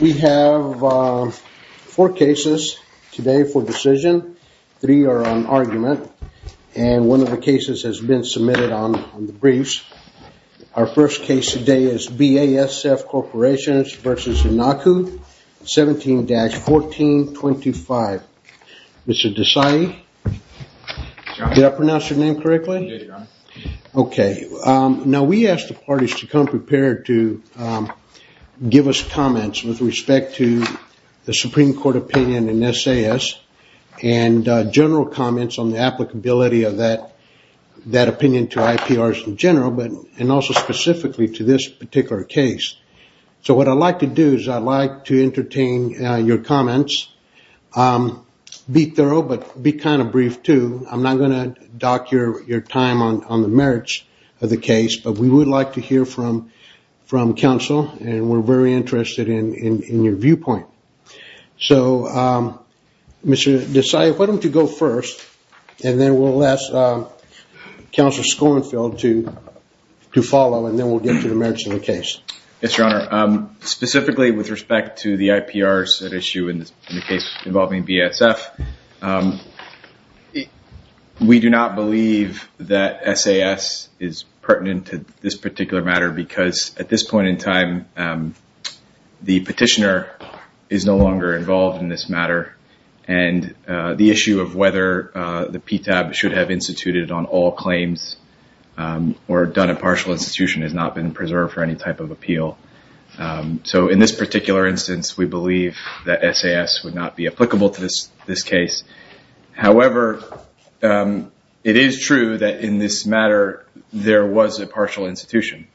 We have four cases today for decision. Three are on argument and one of the cases has been submitted on the briefs. Our first case today is BASF Corporation v. Iancu 17-1425. Mr. Desai, did I pronounce your name correctly? I would like to entertain your comments with respect to the Supreme Court opinion and general comments on the applicability of that opinion to IPRs in general and also specifically to this particular case. So what I'd like to do is I'd like to entertain your comments. Be thorough but be kind of brief too. I'm not going to dock your time on the merits of the case but we would like to hear from counsel and we're very interested in your viewpoint. So Mr. Desai, why don't you go first and then we'll ask Counselor Schoenfeld to follow and then we'll get to the merits of the case. Yes, Your Honor. Specifically with respect to the IPRs issue and the case involving BASF, we do not believe that SAS is pertinent to this particular matter because at this point in time the petitioner is no longer involved in this matter and the issue of whether the PTAB should have instituted on all claims or done a partial institution has not been preserved for any type of appeal. So in this particular instance we believe that SAS would not be applicable to this case. However, it is true that in this matter there was a partial institution.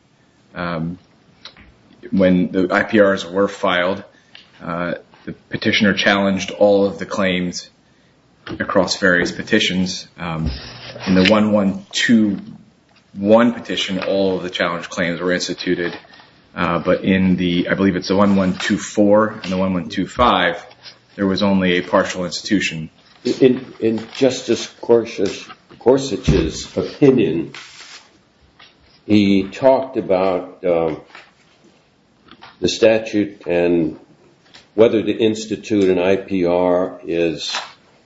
When the IPRs were filed, the petitioner challenged all of the claims were instituted but in the, I believe it's the 1124 and the 1125, there was only a partial institution. In Justice Gorsuch's opinion, he talked about the statute and whether to institute an IPR is,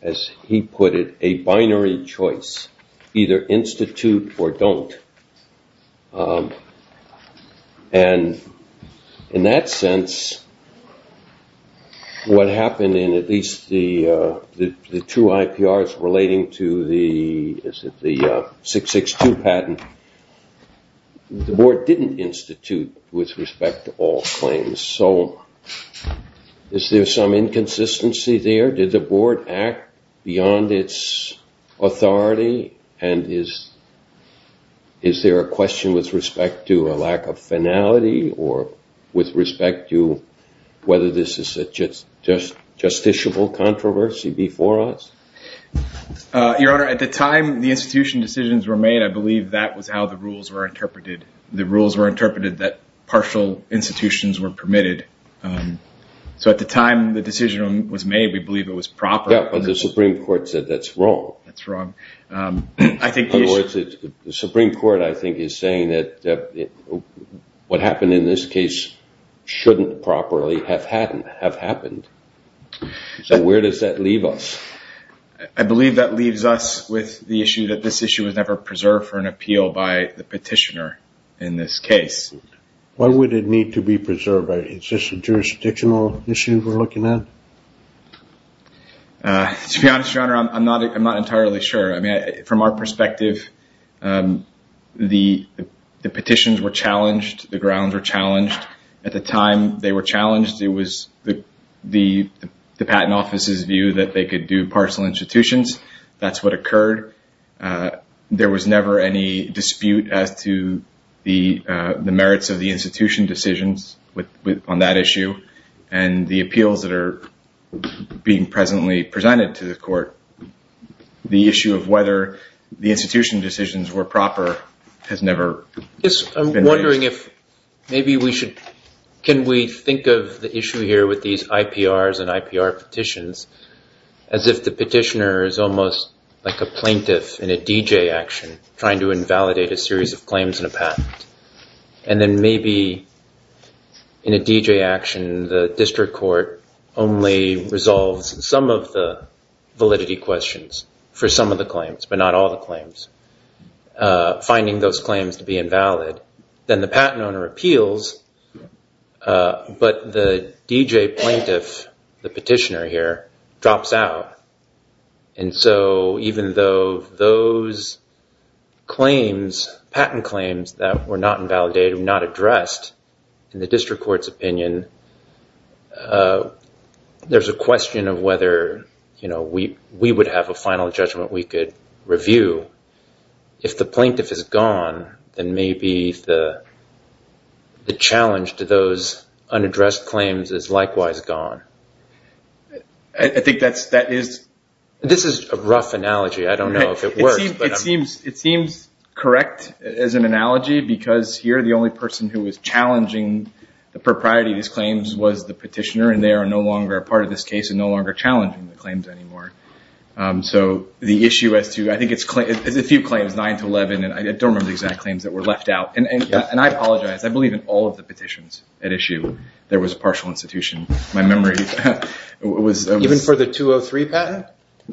as he put it, a binary choice. Either institute or don't. And in that sense, what with respect to all claims. So is there some inconsistency there? Did the board act beyond its authority and is there a question with respect to a lack of finality or with respect to whether this is a justiciable controversy before us? Your Honor, at the time the institution decisions were made, I believe that was how the rules were interpreted. The rules were interpreted that partial institutions were permitted. So at the time the decision was made, we believe it was proper. Yeah, but the Supreme Court said that's wrong. That's wrong. In other words, the Supreme Court I think is saying that what happened in this case shouldn't properly have happened. So where does that leave us? I believe that leaves us with the issue that this issue was never preserved for an appeal by the petitioner in this case. Why would it need to be preserved? Is this a jurisdictional issue we're looking at? To be honest, Your Honor, I'm not entirely sure. From our perspective, the petitions were challenged. The grounds were challenged. At the time they were challenged, it was the patent office's view that they could do partial institutions. That's what occurred. There was never any dispute as to the merits of the institution decisions on that issue and the appeals that are being presently presented to the court. The issue of whether the institution decisions were proper has never I'm wondering if maybe we should, can we think of the issue here with these IPRs and IPR petitions as if the petitioner is almost like a plaintiff in a DJ action trying to invalidate a series of claims in a patent. And then maybe in a DJ action, the district court only resolves some of the validity questions for some of the claims to be invalid. Then the patent owner appeals, but the DJ plaintiff, the petitioner here, drops out. And so even though those patent claims that were not the challenge to those unaddressed claims is likewise gone. This is a rough analogy. I don't know if it works. It seems correct as an analogy because here the only person who was challenging the propriety of these claims was the petitioner and they are no longer a part of this case and no longer challenging the claims anymore. So the issue as to, I think it's a few claims, 9 to 11, and I don't remember the exact claims that were left out. And I apologize. I believe in all of the petitions at issue there was a partial institution. My memory was... Even for the 203 patent?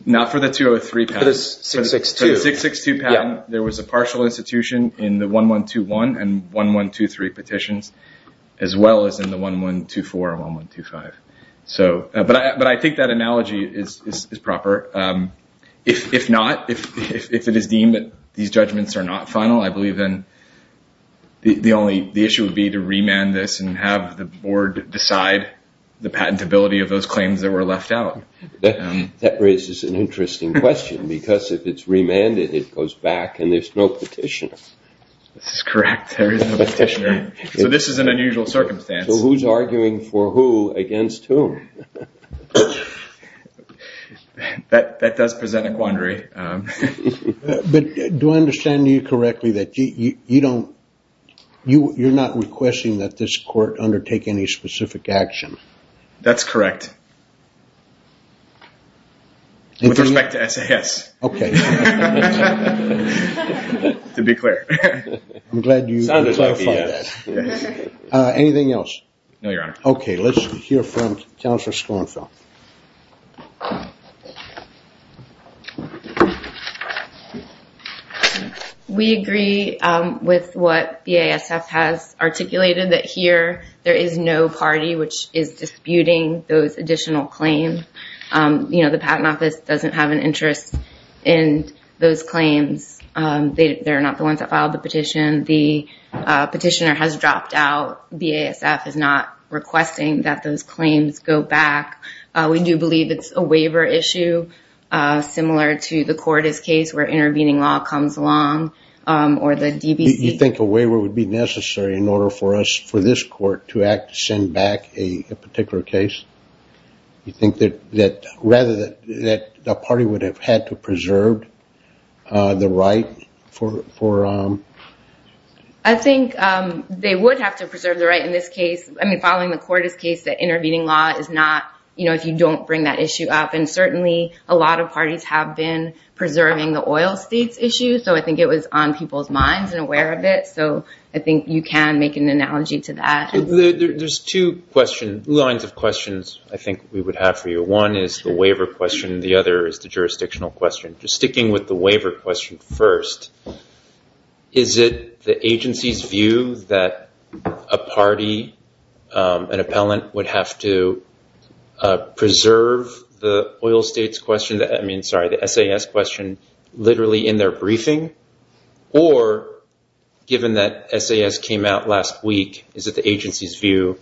Not for the 203 patent. For the 662. There was a partial institution in the 1121 and 1123 petitions as well as in the 1124 and 1125. But I think that analogy is proper. If not, if it is deemed that these judgments are not final, I believe then the issue would be to remand this and have the board decide the patentability of those claims that were left out. That raises an interesting question because if it's remanded, it goes back and there's no petitioner. This is correct. There is no petitioner. So this is an unusual circumstance. So who's arguing for who against whom? That does present a quandary. But do I understand you correctly that you're not requesting that this court undertake any specific action? That's correct. With respect to SAS. Okay. To be clear. Anything else? No, Your Honor. Okay, let's hear from Counselor Schoenfeld. We agree with what BASF has articulated that here there is no party which is disputing those additional claims. The Patent Office doesn't have an interest in those claims. They're not the ones that filed the petition. The petitioner has dropped out. BASF is not requesting that those claims go back. We do believe it's a waiver issue similar to the Cordes case where intervening law comes along or the DBC. You think a waiver would be necessary in order for us, for this court, to act to send back a particular case? You think that rather that the party would have had to preserve the right for... I think they would have to preserve the right in this case. I mean, following the Cordes case, the intervening law is not, you know, if you don't bring that issue up. And certainly a lot of parties have been preserving the oil states issue. So I think it was on people's minds and aware of it. So I think you can make an analogy to that. There's two lines of questions I think we would have for you. One is the waiver question. The other is the jurisdictional question. Sticking with the waiver question first, is it the agency's view that a party, an appellant, would have to preserve the oil states question? I mean, sorry, the SAS question literally in their briefing? Or given that SAS came out last week, is it the agency's view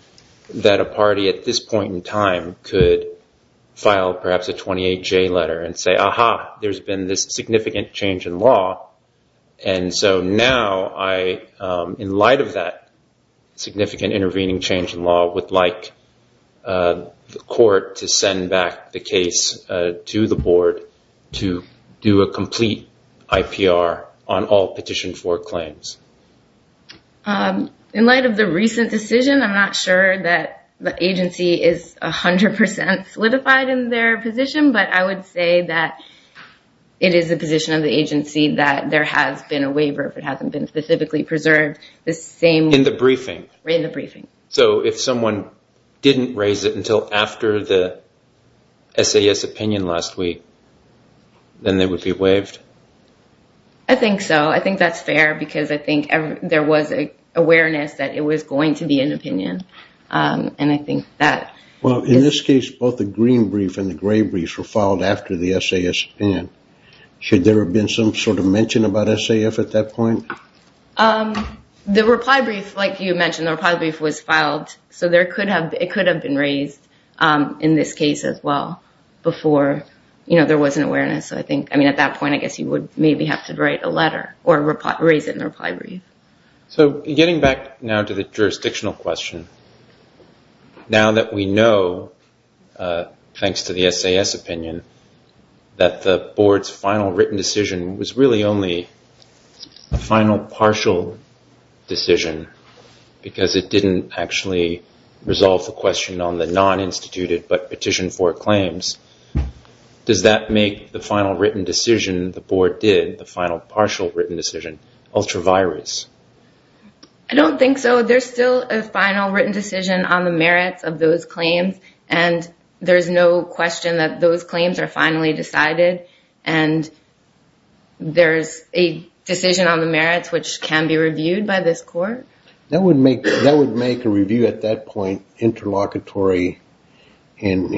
that a party at this point in time could file perhaps a 28J letter and say, aha, there's been this significant change in law. And so now in light of that significant intervening change in law, I would like the court to send back the case to the board to do a complete IPR on all petition for claims. In light of the recent decision, I'm not sure that the agency is 100% solidified in their position. But I would say that it is the position of the agency that there has been a waiver, if it hasn't been specifically preserved. In the briefing? In the briefing. So if someone didn't raise it until after the SAS opinion last week, then they would be waived? I think so. I think that's fair because I think there was awareness that it was going to be an opinion. Well, in this case, both the green brief and the gray brief were filed after the SAS opinion. Should there have been some sort of mention about SAF at that point? The reply brief, like you mentioned, the reply brief was filed, so it could have been raised in this case as well before there was an awareness. I mean, at that point, I guess you would maybe have to write a letter or raise it in the reply brief. So getting back now to the jurisdictional question, now that we know, thanks to the SAS opinion, that the board's final written decision was really only a final partial decision because it didn't actually resolve the question on the non-instituted but petitioned for claims, does that make the final written decision the board did, the final partial written decision, ultra-virus? I don't think so. There's still a final written decision on the merits of those claims, and there's no question that those claims are finally decided, and there's a decision on the merits which can be reviewed by this court. That would make a review at that point interlocutory, and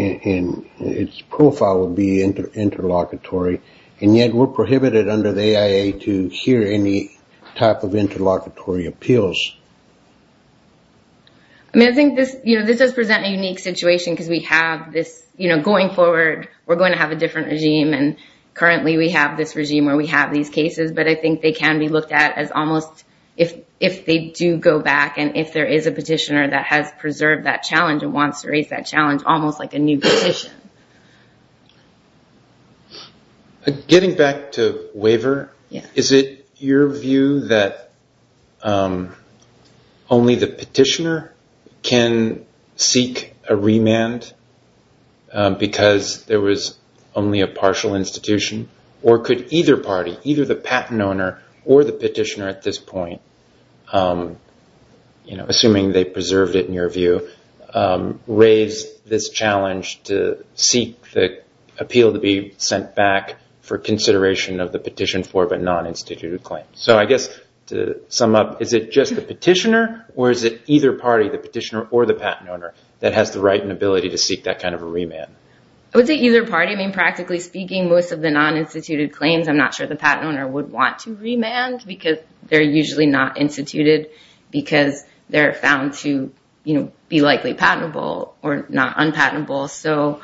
its profile would be interlocutory, and yet we're prohibited under the AIA to hear any type of interlocutory appeals. I mean, I think this does present a unique situation because we have this going forward, we're going to have a different regime, and currently we have this regime where we have these cases, but I think they can be looked at as almost, if they do go back, and if there is a petitioner that has preserved that challenge and wants to raise that challenge, almost like a new petition. Getting back to waiver, is it your view that only the petitioner can seek a remand because there was only a partial institution, or could either party, either the patent owner or the petitioner at this point, assuming they preserved it in your view, raise this challenge to seek the appeal to be sent back for consideration of the petition for a non-instituted claim? I guess to sum up, is it just the petitioner, or is it either party, the petitioner or the patent owner, that has the right and ability to seek that kind of a remand? I would say either party. I mean, practically speaking, most of the non-instituted claims, I'm not sure the patent owner would want to remand because they're usually not instituted because they're found to be likely patentable or not unpatentable. So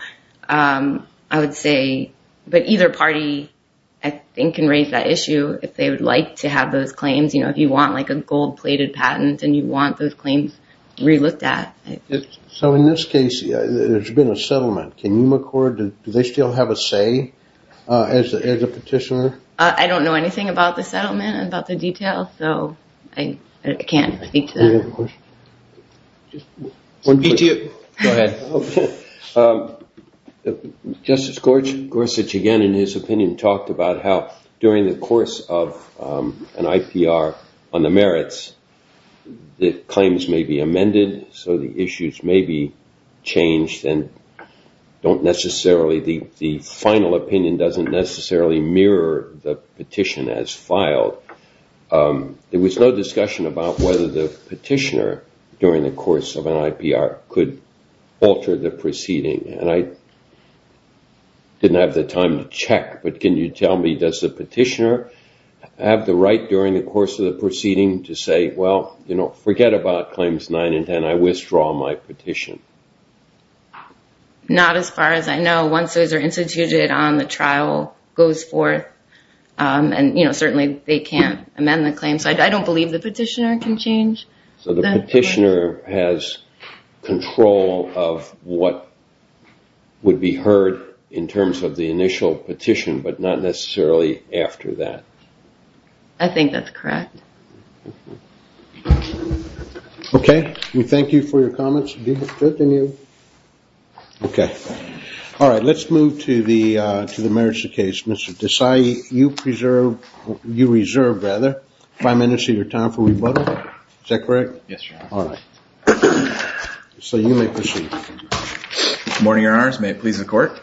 I would say, but either party, I think, can raise that issue if they would like to have those claims. You know, if you want like a gold-plated patent and you want those claims re-looked at. So in this case, there's been a settlement. Can you record, do they still have a say as a petitioner? I don't know anything about the settlement, about the details, so I can't speak to that. Do you have a question? Go ahead. Justice Gorsuch again, in his opinion, talked about how during the course of an IPR on the merits, the claims may be amended, so the issues may be changed and don't necessarily, the final opinion doesn't necessarily mirror the petition as filed. There was no discussion about whether the petitioner, during the course of an IPR, could alter the proceeding. And I didn't have the time to check, but can you tell me, does the petitioner have the right during the course of the proceeding to say, well, forget about Claims 9 and 10, I withdraw my petition? Not as far as I know. Once those are instituted on the trial, it goes forth, and certainly they can't amend the claim, so I don't believe the petitioner can change. So the petitioner has control of what would be heard in terms of the initial petition, but not necessarily after that. I think that's correct. Okay. We thank you for your comments. Okay. All right. Let's move to the merits of the case. Mr. Desai, you reserve five minutes of your time for rebuttal. Is that correct? Yes, Your Honor. All right. So you may proceed. Good morning, Your Honors. May it please the Court.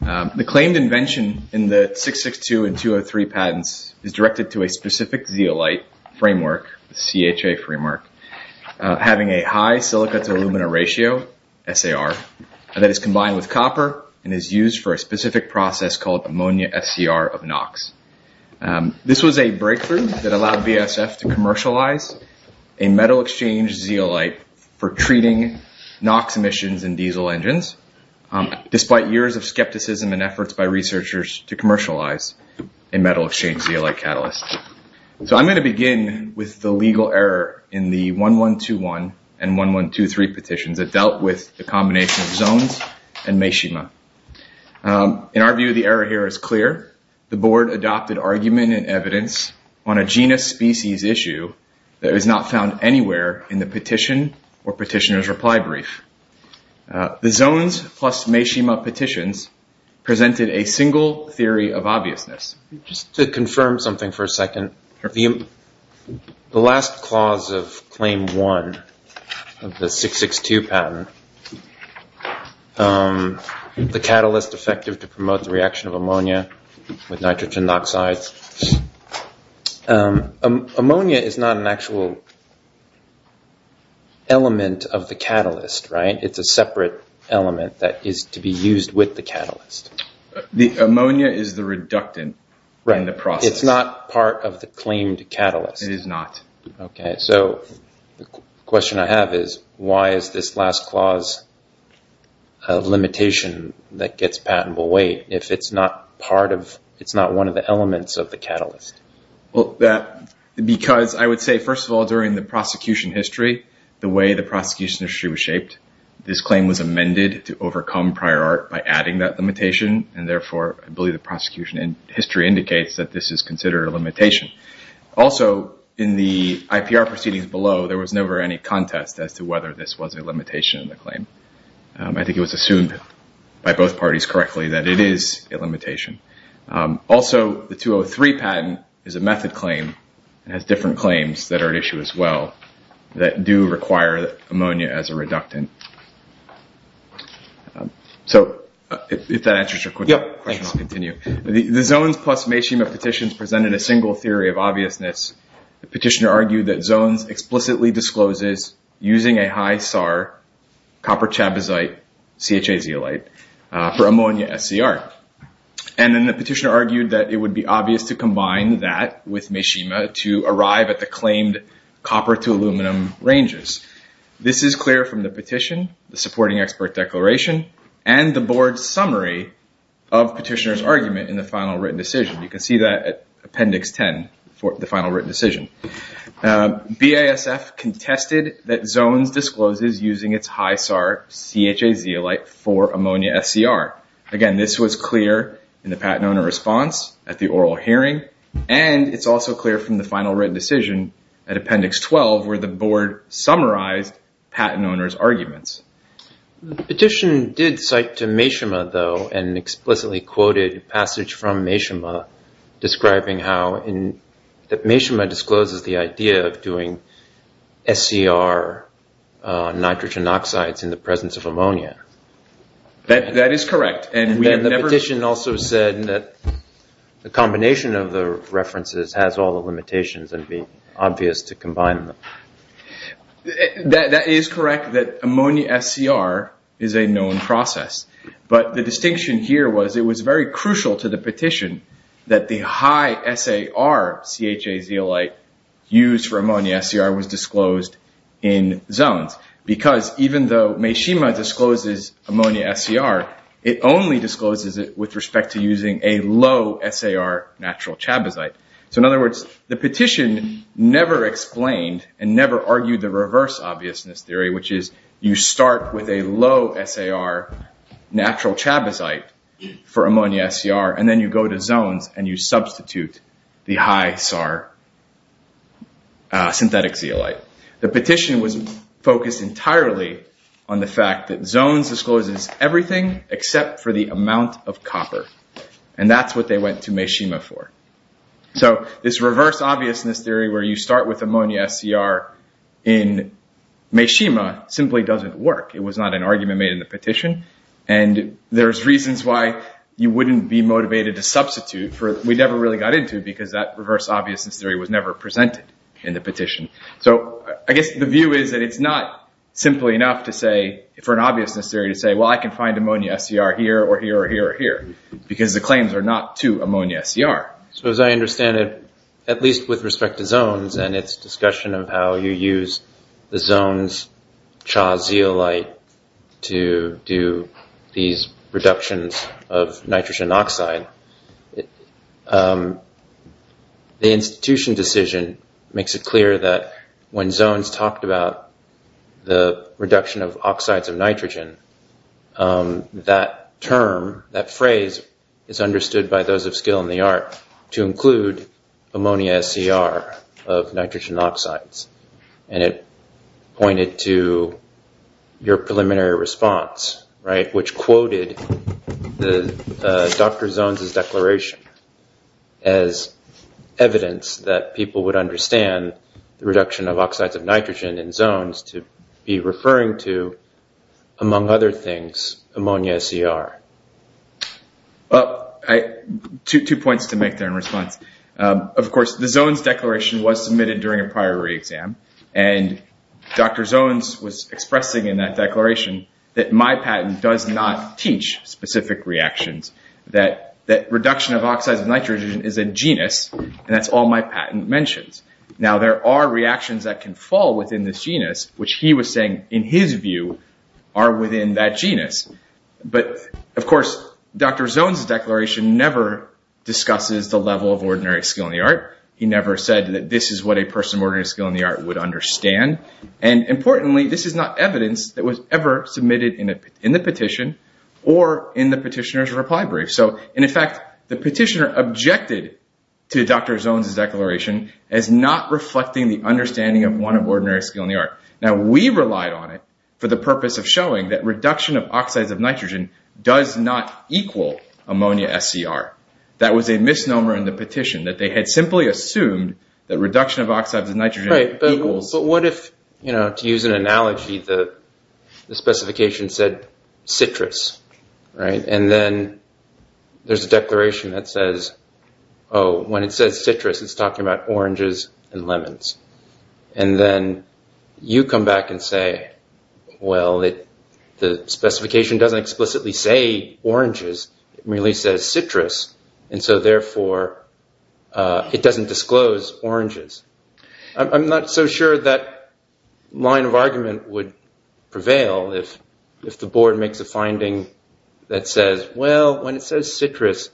The claimed invention in the 662 and 203 patents is directed to a specific zeolite framework, the CHA framework, having a high silica to alumina ratio, SAR, that is combined with copper and is used for a specific process called ammonia SCR of NOx. This was a breakthrough that allowed BSF to commercialize a metal exchange zeolite for treating NOx emissions in diesel engines, despite years of skepticism and efforts by researchers to commercialize a metal exchange zeolite catalyst. So I'm going to begin with the legal error in the 1121 and 1123 petitions that dealt with the combination of Zones and Meshima. In our view, the error here is clear. The Board adopted argument and evidence on a genus species issue that was not found anywhere in the petition or petitioner's reply brief. The Zones plus Meshima petitions presented a single theory of obviousness. Just to confirm something for a second, the last clause of Claim 1 of the 662 patent, the catalyst effective to promote the reaction of ammonia with nitrogen dioxide. Ammonia is not an actual element of the catalyst, right? It's a separate element that is to be used with the catalyst. The ammonia is the reductant in the process. It's not part of the claimed catalyst. It is not. Okay, so the question I have is why is this last clause a limitation that gets patented away if it's not part of, it's not one of the elements of the catalyst? Because I would say, first of all, during the prosecution history, the way the prosecution history was shaped, this claim was amended to overcome prior art by adding that limitation, and therefore I believe the prosecution history indicates that this is considered a limitation. Also, in the IPR proceedings below, there was never any contest as to whether this was a limitation of the claim. I think it was assumed by both parties correctly that it is a limitation. Also, the 203 patent is a method claim. It has different claims that are at issue as well that do require ammonia as a reductant. So if that answers your question, I'll continue. The Zones plus Mayshima petitions presented a single theory of obviousness. The petitioner argued that Zones explicitly discloses using a high-SAR copper chabazite CHA zeolite for ammonia SCR. And then the petitioner argued that it would be obvious to combine that with Mayshima to arrive at the claimed copper to aluminum ranges. This is clear from the petition, the supporting expert declaration, and the board summary of petitioner's argument in the final written decision. You can see that at Appendix 10 for the final written decision. BASF contested that Zones discloses using its high-SAR CHA zeolite for ammonia SCR. Again, this was clear in the Pat Nona response at the oral hearing, and it's also clear from the final written decision at Appendix 12 where the board summarized Pat Nona's arguments. The petition did cite to Mayshima, though, an explicitly quoted passage from Mayshima, describing how Mayshima discloses the idea of doing SCR nitrogen oxides in the presence of ammonia. That is correct. And then the petition also said that the combination of the references has all the limitations and it would be obvious to combine them. That is correct that ammonia SCR is a known process, but the distinction here was it was very crucial to the petition that the high-SAR CHA zeolite used for ammonia SCR was disclosed in Zones. Because even though Mayshima discloses ammonia SCR, it only discloses it with respect to using a low-SAR natural chabazite. So in other words, the petition never explained and never argued the reverse obviousness theory, which is you start with a low-SAR natural chabazite for ammonia SCR, and then you go to Zones and you substitute the high-SAR synthetic zeolite. The petition was focused entirely on the fact that Zones discloses everything except for the amount of copper, and that's what they went to Mayshima for. So this reverse obviousness theory where you start with ammonia SCR in Mayshima simply doesn't work. It was not an argument made in the petition, and there's reasons why you wouldn't be motivated to substitute. We never really got into it because that reverse obviousness theory was never presented in the petition. So I guess the view is that it's not simply enough for an obviousness theory to say, well, I can find ammonia SCR here or here or here or here, because the claims are not to ammonia SCR. So as I understand it, at least with respect to Zones and its discussion of how you use the Zones CHA zeolite to do these reductions of nitrogen oxide, the institution decision makes it clear that when Zones talked about the reduction of oxides of nitrogen, that term, that phrase is understood by those of skill in the art to include ammonia SCR of nitrogen oxides. And it pointed to your preliminary response, which quoted Dr. Zones' declaration as evidence that people would understand the reduction of oxides of nitrogen in Zones to be referring to, among other things, ammonia SCR. Well, two points to make there in response. Of course, the Zones declaration was submitted during a prior re-exam, and Dr. Zones was expressing in that declaration that my patent does not teach specific reactions, that reduction of oxides of nitrogen is a genus, and that's all my patent mentions. Now there are reactions that can fall within this genus, which he was saying, in his view, are within that genus. But, of course, Dr. Zones' declaration never discusses the level of ordinary skill in the art. He never said that this is what a person of ordinary skill in the art would understand. And, importantly, this is not evidence that was ever submitted in the petition or in the petitioner's reply brief. So, in effect, the petitioner objected to Dr. Zones' declaration as not reflecting the understanding of one of ordinary skill in the art. Now, we relied on it for the purpose of showing that reduction of oxides of nitrogen does not equal ammonia SCR. That was a misnomer in the petition, that they had simply assumed that reduction of oxides of nitrogen equals... But what if, to use an analogy, the specification said citrus, right? And then there's a declaration that says, oh, when it says citrus, it's talking about oranges and lemons. And then you come back and say, well, the specification doesn't explicitly say oranges. It merely says citrus. And so, therefore, it doesn't disclose oranges. I'm not so sure that line of argument would prevail if the board makes a finding that says, well, when it says citrus,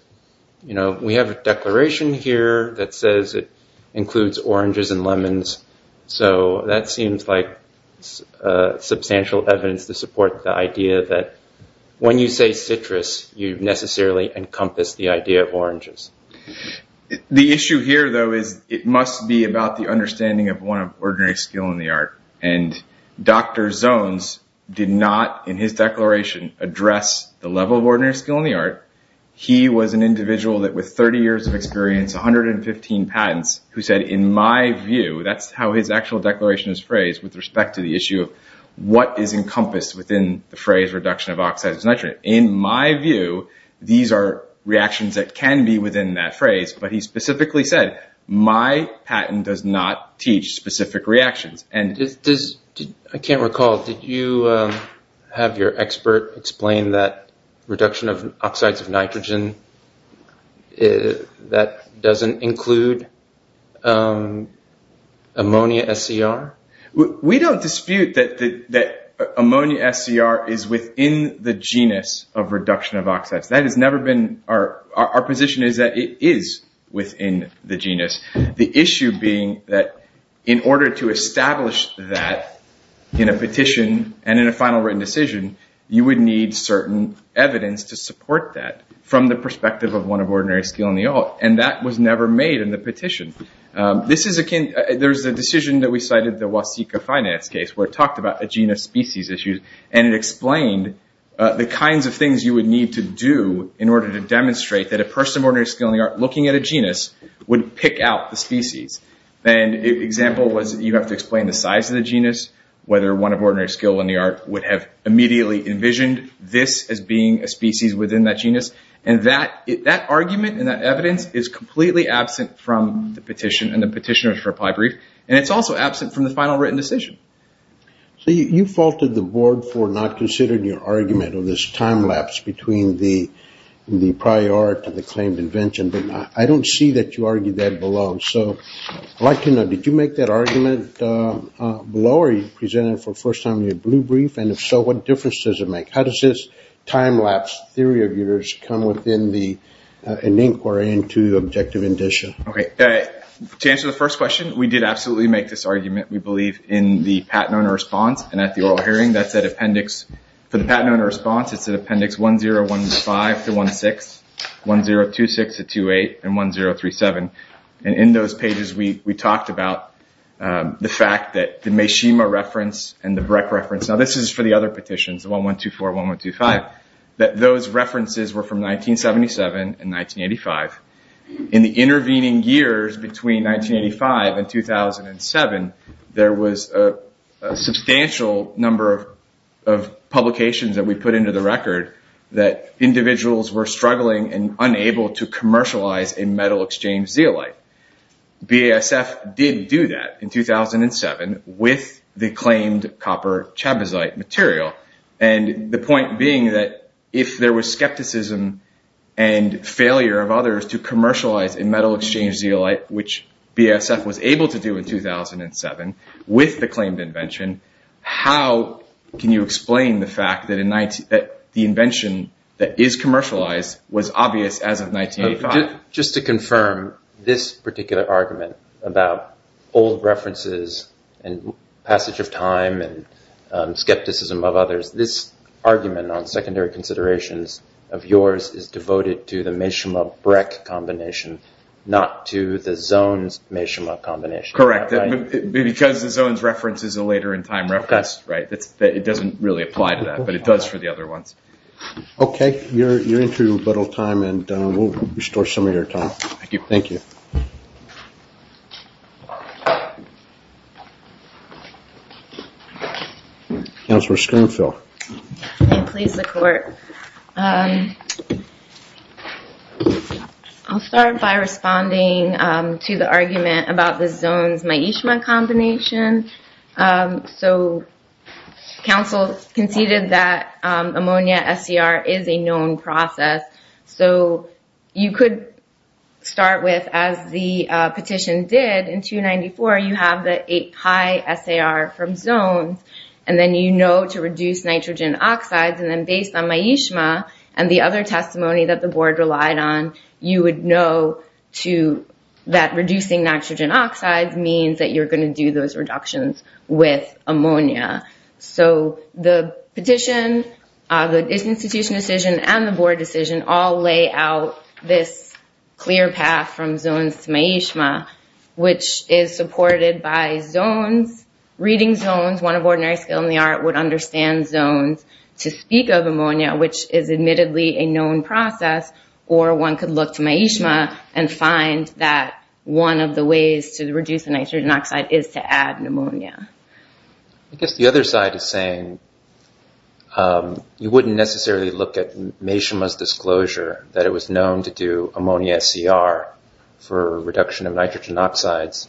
we have a declaration here that says it includes oranges and lemons. So that seems like substantial evidence to support the idea that when you say citrus, you necessarily encompass the idea of oranges. The issue here, though, is it must be about the understanding of one of ordinary skill in the art. And Dr. Zones did not, in his declaration, address the level of ordinary skill in the art. He was an individual that, with 30 years of experience, 115 patents, who said, in my view, that's how his actual declaration is phrased with respect to the issue of what is encompassed within the phrase reduction of oxides of nitrogen. In my view, these are reactions that can be within that phrase. But he specifically said, my patent does not teach specific reactions. I can't recall. Did you have your expert explain that reduction of oxides of nitrogen, that doesn't include ammonia SCR? We don't dispute that ammonia SCR is within the genus of reduction of oxides. Our position is that it is within the genus. The issue being that in order to establish that in a petition and in a final written decision, you would need certain evidence to support that from the perspective of one of ordinary skill in the art. And that was never made in the petition. There's a decision that we cited, the Wasika Finance case, where it talked about the genus species issues. And it explained the kinds of things you would need to do in order to demonstrate that a person of ordinary skill in the art looking at a genus would pick out the species. An example was you have to explain the size of the genus, whether one of ordinary skill in the art would have immediately envisioned this as being a species within that genus. And that argument and that evidence is completely absent from the petition and the petitioner's reply brief. And it's also absent from the final written decision. So you faulted the board for not considering your argument of this time lapse between the prior art and the claimed invention. But I don't see that you argued that below. So I'd like to know, did you make that argument below or are you presenting it for the first time in your blue brief? And if so, what difference does it make? How does this time lapse theory of yours come within an inquiry into objective indicia? Okay. To answer the first question, we did absolutely make this argument, we believe, in the patent owner response and at the oral hearing. For the patent owner response, it's at appendix 1015-16, 1026-28, and 1037. And in those pages, we talked about the fact that the Meshima reference and the Breck reference, now this is for the other petitions, 1124-1125, that those references were from 1977 and 1985. In the intervening years between 1985 and 2007, there was a substantial number of publications that we put into the record that individuals were struggling and unable to commercialize a metal exchange zeolite. BASF did do that in 2007 with the claimed copper chabazite material. And the point being that if there was skepticism and failure of others to commercialize a metal exchange zeolite, which BASF was able to do in 2007 with the claimed invention, how can you explain the fact that the invention that is commercialized was obvious as of 1985? Just to confirm, this particular argument about old references and passage of time and skepticism of others, this argument on secondary considerations of yours is devoted to the Meshima-Breck combination, not to the Zones-Meshima combination. Correct. Because the Zones reference is a later in time reference, right? It doesn't really apply to that, but it does for the other ones. Okay, you're into a little time and we'll restore some of your time. Thank you. Counselor Springfield. May it please the court. I'll start by responding to the argument about the Zones-Meshima combination. So, counsel conceded that ammonia SCR is a known process. So, you could start with, as the petition did in 294, you have the high SAR from Zones, and then you know to reduce nitrogen oxides, and then based on my Meshima and the other testimony that the board relied on, you would know that reducing nitrogen oxides means that you're going to do those reductions with ammonia. So, the petition, the institution decision, and the board decision all lay out this clear path from Zones to Meshima, which is supported by Zones, reading Zones. One of ordinary skill in the art would understand Zones to speak of ammonia, which is admittedly a known process, or one could look to Meshima and find that one of the ways to reduce nitrogen oxide is to add ammonia. I guess the other side is saying you wouldn't necessarily look at Meshima's disclosure that it was known to do ammonia SCR for reduction of nitrogen oxides,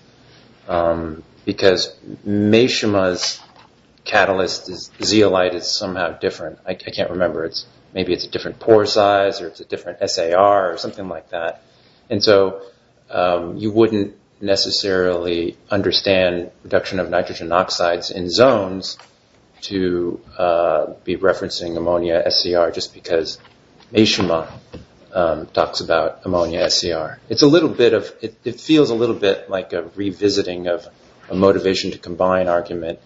because Meshima's catalyst, zeolite, is somehow different. I can't remember, maybe it's a different pore size, or it's a different SAR, or something like that. And so, you wouldn't necessarily understand reduction of nitrogen oxides in Zones to be referencing ammonia SCR, just because Meshima talks about ammonia SCR. It's a little bit of, it feels a little bit like a revisiting of a motivation to combine argument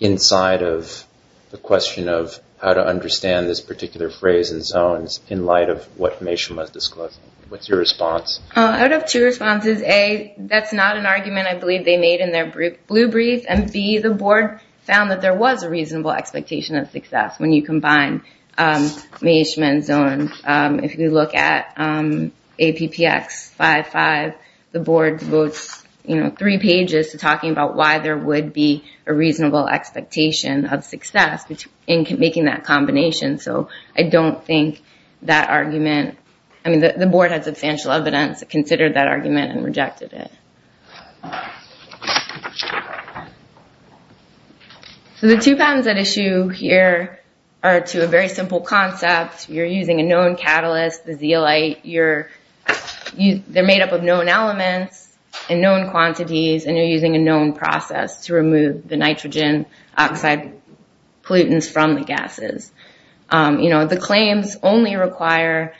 inside of the question of how to understand this particular phrase in Zones in light of what Meshima's disclosing. What's your response? I would have two responses. A, that's not an argument I believe they made in their blue brief, and B, the board found that there was a reasonable expectation of success when you combine Meshima and Zones. If you look at APPX55, the board devotes three pages to talking about why there would be a reasonable expectation of success in making that combination. So, I don't think that argument, I mean, the board has substantial evidence that considered that argument and rejected it. So, the two patterns at issue here are to a very simple concept. You're using a known catalyst, the zeolite. They're made up of known elements and known quantities, and you're using a known process to remove the nitrogen oxide pollutants from the gases. The claims only require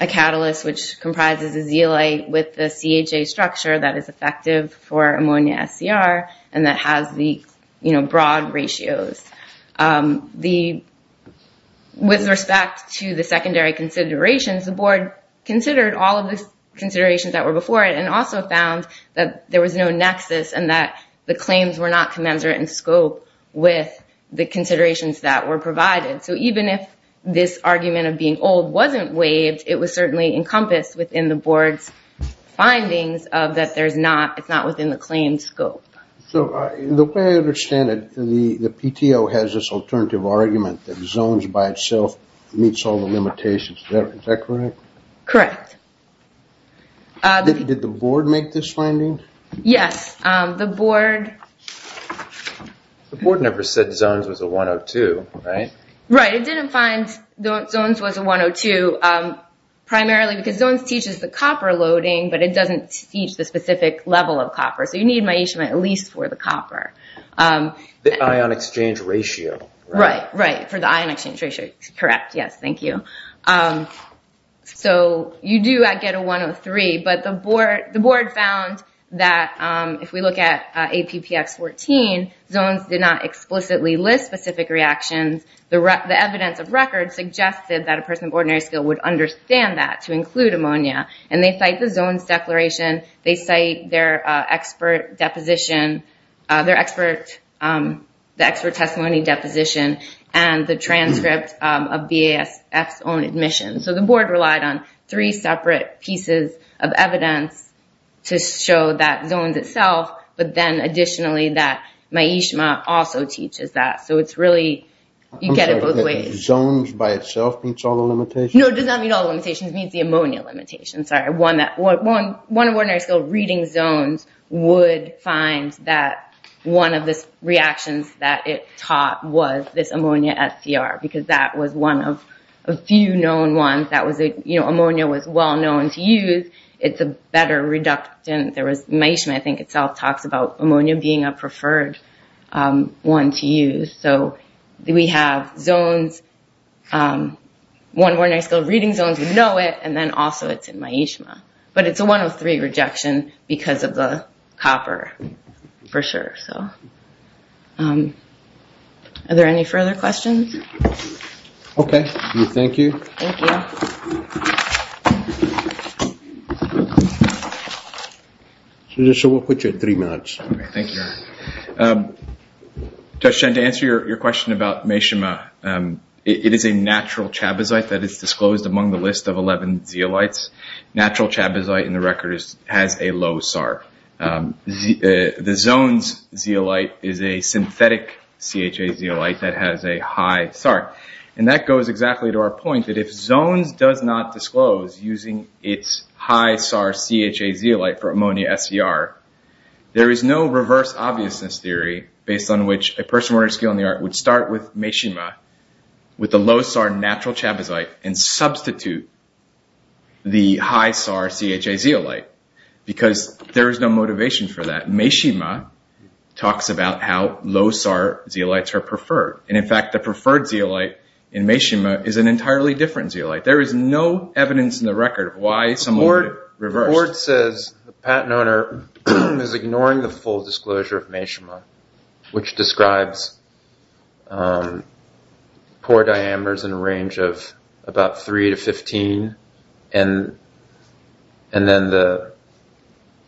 a catalyst which comprises a zeolite with the CHA structure that is effective for ammonia SCR, and that has the broad ratios. With respect to the secondary considerations, the board considered all of the considerations that were before it and also found that there was no nexus and that the claims were not commensurate in scope with the considerations that were provided. So, even if this argument of being old wasn't waived, it was certainly encompassed within the board's findings of that it's not within the claimed scope. So, the way I understand it, the PTO has this alternative argument that Zones by itself meets all the limitations. Is that correct? Correct. Did the board make this finding? Yes. The board... The board never said Zones was a 102, right? Right. It didn't find Zones was a 102 primarily because Zones teaches the copper loading, but it doesn't teach the specific level of copper. So, you need my at least for the copper. The ion exchange ratio. Right. For the ion exchange ratio. Correct. Yes. Thank you. So, you do get a 103, but the board found that if we look at APPX14, Zones did not explicitly list specific reactions. The evidence of record suggested that a person of ordinary skill would understand that to include ammonia, and they cite the Zones declaration. They cite their expert deposition, their expert, the expert testimony deposition, and the transcript of BASF's own admission. So, the board relied on three separate pieces of evidence to show that Zones itself, but then additionally that Myeshma also teaches that. So, it's really, you get it both ways. I'm sorry, Zones by itself meets all the limitations? No, it does not meet all the limitations. It meets the ammonia limitations. Sorry. One of ordinary skill reading Zones would find that one of the reactions that it taught was this ammonia SCR, because that was one of a few known ones. That was, you know, ammonia was well known to use. It's a better reductant. There was Myeshma, I think, itself talks about ammonia being a preferred one to use. So, we have Zones, one of ordinary skill reading Zones would know it, and then also it's in Myeshma. But it's a 103 rejection because of the copper, for sure. So, are there any further questions? Okay. Thank you. Thank you. So, we'll put you at three minutes. Okay. Thank you. Judge Chen, to answer your question about Myeshma, it is a natural chabazite that is disclosed among the list of 11 zeolites. Natural chabazite in the record has a low SAR. The Zones zeolite is a synthetic CHA zeolite that has a high SAR. And that goes exactly to our point that if Zones does not disclose using its high SAR CHA zeolite for ammonia SCR, there is no reverse obviousness theory based on which a person with ordinary skill in the art would start with Myeshma, with a low SAR natural chabazite, and substitute the high SAR CHA zeolite because there is no motivation for that. Myeshma talks about how low SAR zeolites are preferred. And, in fact, the preferred zeolite in Myeshma is an entirely different zeolite. There is no evidence in the record of why someone would reverse. The report says the patent owner is ignoring the full disclosure of Myeshma, which describes pore diameters in a range of about 3 to 15 and then the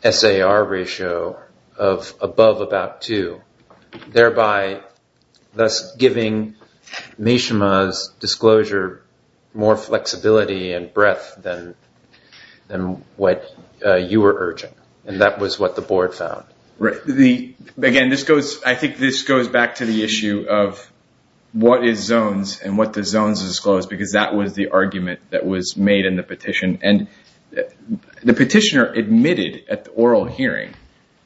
SAR ratio of above about 2, thereby thus giving Myeshma's disclosure more flexibility and breadth than what you were urging. And that was what the board found. Right. Again, I think this goes back to the issue of what is Zones and what the Zones disclose, because that was the argument that was made in the petition. And the petitioner admitted at the oral hearing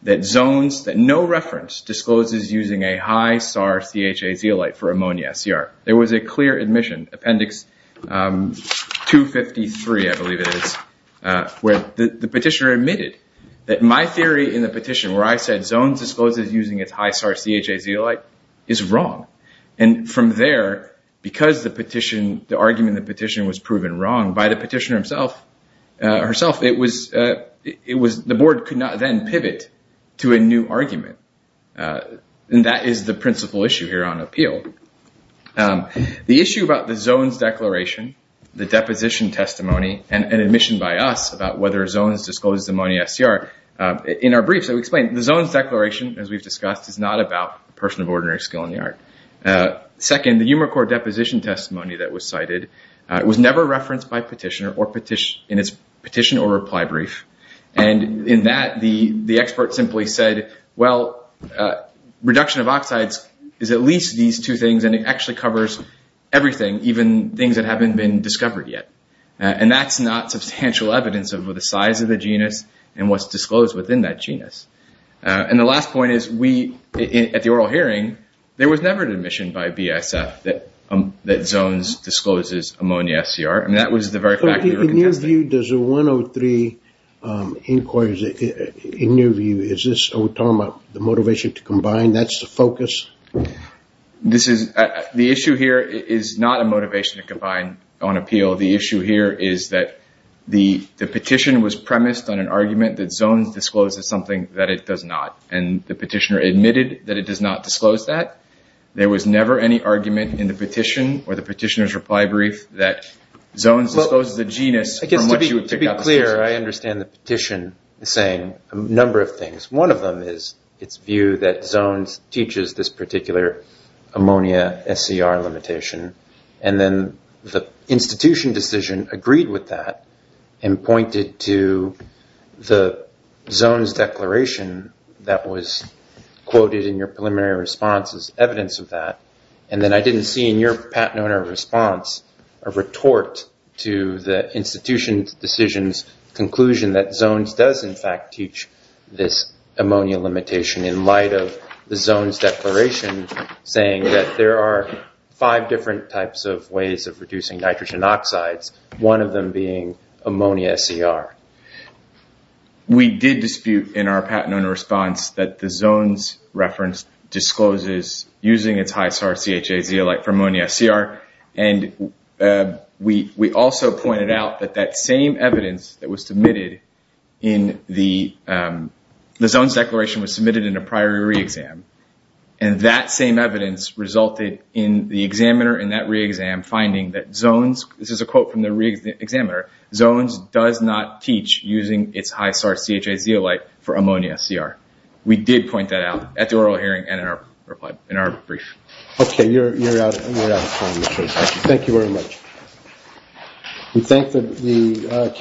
that Zones, that no reference, discloses using a high SAR CHA zeolite for ammonia, CR. There was a clear admission, Appendix 253, I believe it is, where the petitioner admitted that my theory in the petition where I said Zones discloses using its high SAR CHA zeolite is wrong. And from there, because the argument in the petition was proven wrong by the petitioner herself, the board could not then pivot to a new argument. And that is the principal issue here on appeal. The issue about the Zones declaration, the deposition testimony, and admission by us about whether Zones discloses ammonia, CR, in our briefs, So to explain, the Zones declaration, as we've discussed, is not about a person of ordinary skill in the art. Second, the Umicore deposition testimony that was cited was never referenced by petitioner in its petition or reply brief. And in that, the expert simply said, well, reduction of oxides is at least these two things, and it actually covers everything, even things that haven't been discovered yet. And that's not substantial evidence of the size of the genus and what's disclosed within that genus. And the last point is we, at the oral hearing, there was never an admission by BSF that Zones discloses ammonia, CR. And that was the very fact that we were contesting. In your view, does the 103 inquiries, in your view, is this the motivation to combine? That's the focus? The issue here is not a motivation to combine on appeal. The issue here is that the petition was premised on an argument that Zones discloses something that it does not. And the petitioner admitted that it does not disclose that. There was never any argument in the petition or the petitioner's reply brief that Zones discloses a genus from which you would pick up the information. To be clear, I understand the petition saying a number of things. One of them is its view that Zones teaches this particular ammonia, SCR limitation. And then the institution decision agreed with that and pointed to the Zones declaration that was quoted in your preliminary response as evidence of that. And then I didn't see in your patent owner response a retort to the institution's decision's conclusion that Zones does, in fact, teach this ammonia limitation in light of the Zones declaration saying that there are five different types of ways of reducing nitrogen oxides, one of them being ammonia SCR. We did dispute in our patent owner response that the Zones reference discloses using its high-sarCHA zeolite for ammonia SCR. And we also pointed out that that same evidence that was submitted in the Zones declaration was submitted in a prior re-exam. And that same evidence resulted in the examiner in that re-exam finding that Zones, this is a quote from the re-examiner, Zones does not teach using its high-sarCHA zeolite for ammonia SCR. We did point that out at the oral hearing and in our reply, in our brief. Okay, you're out of time. Thank you very much.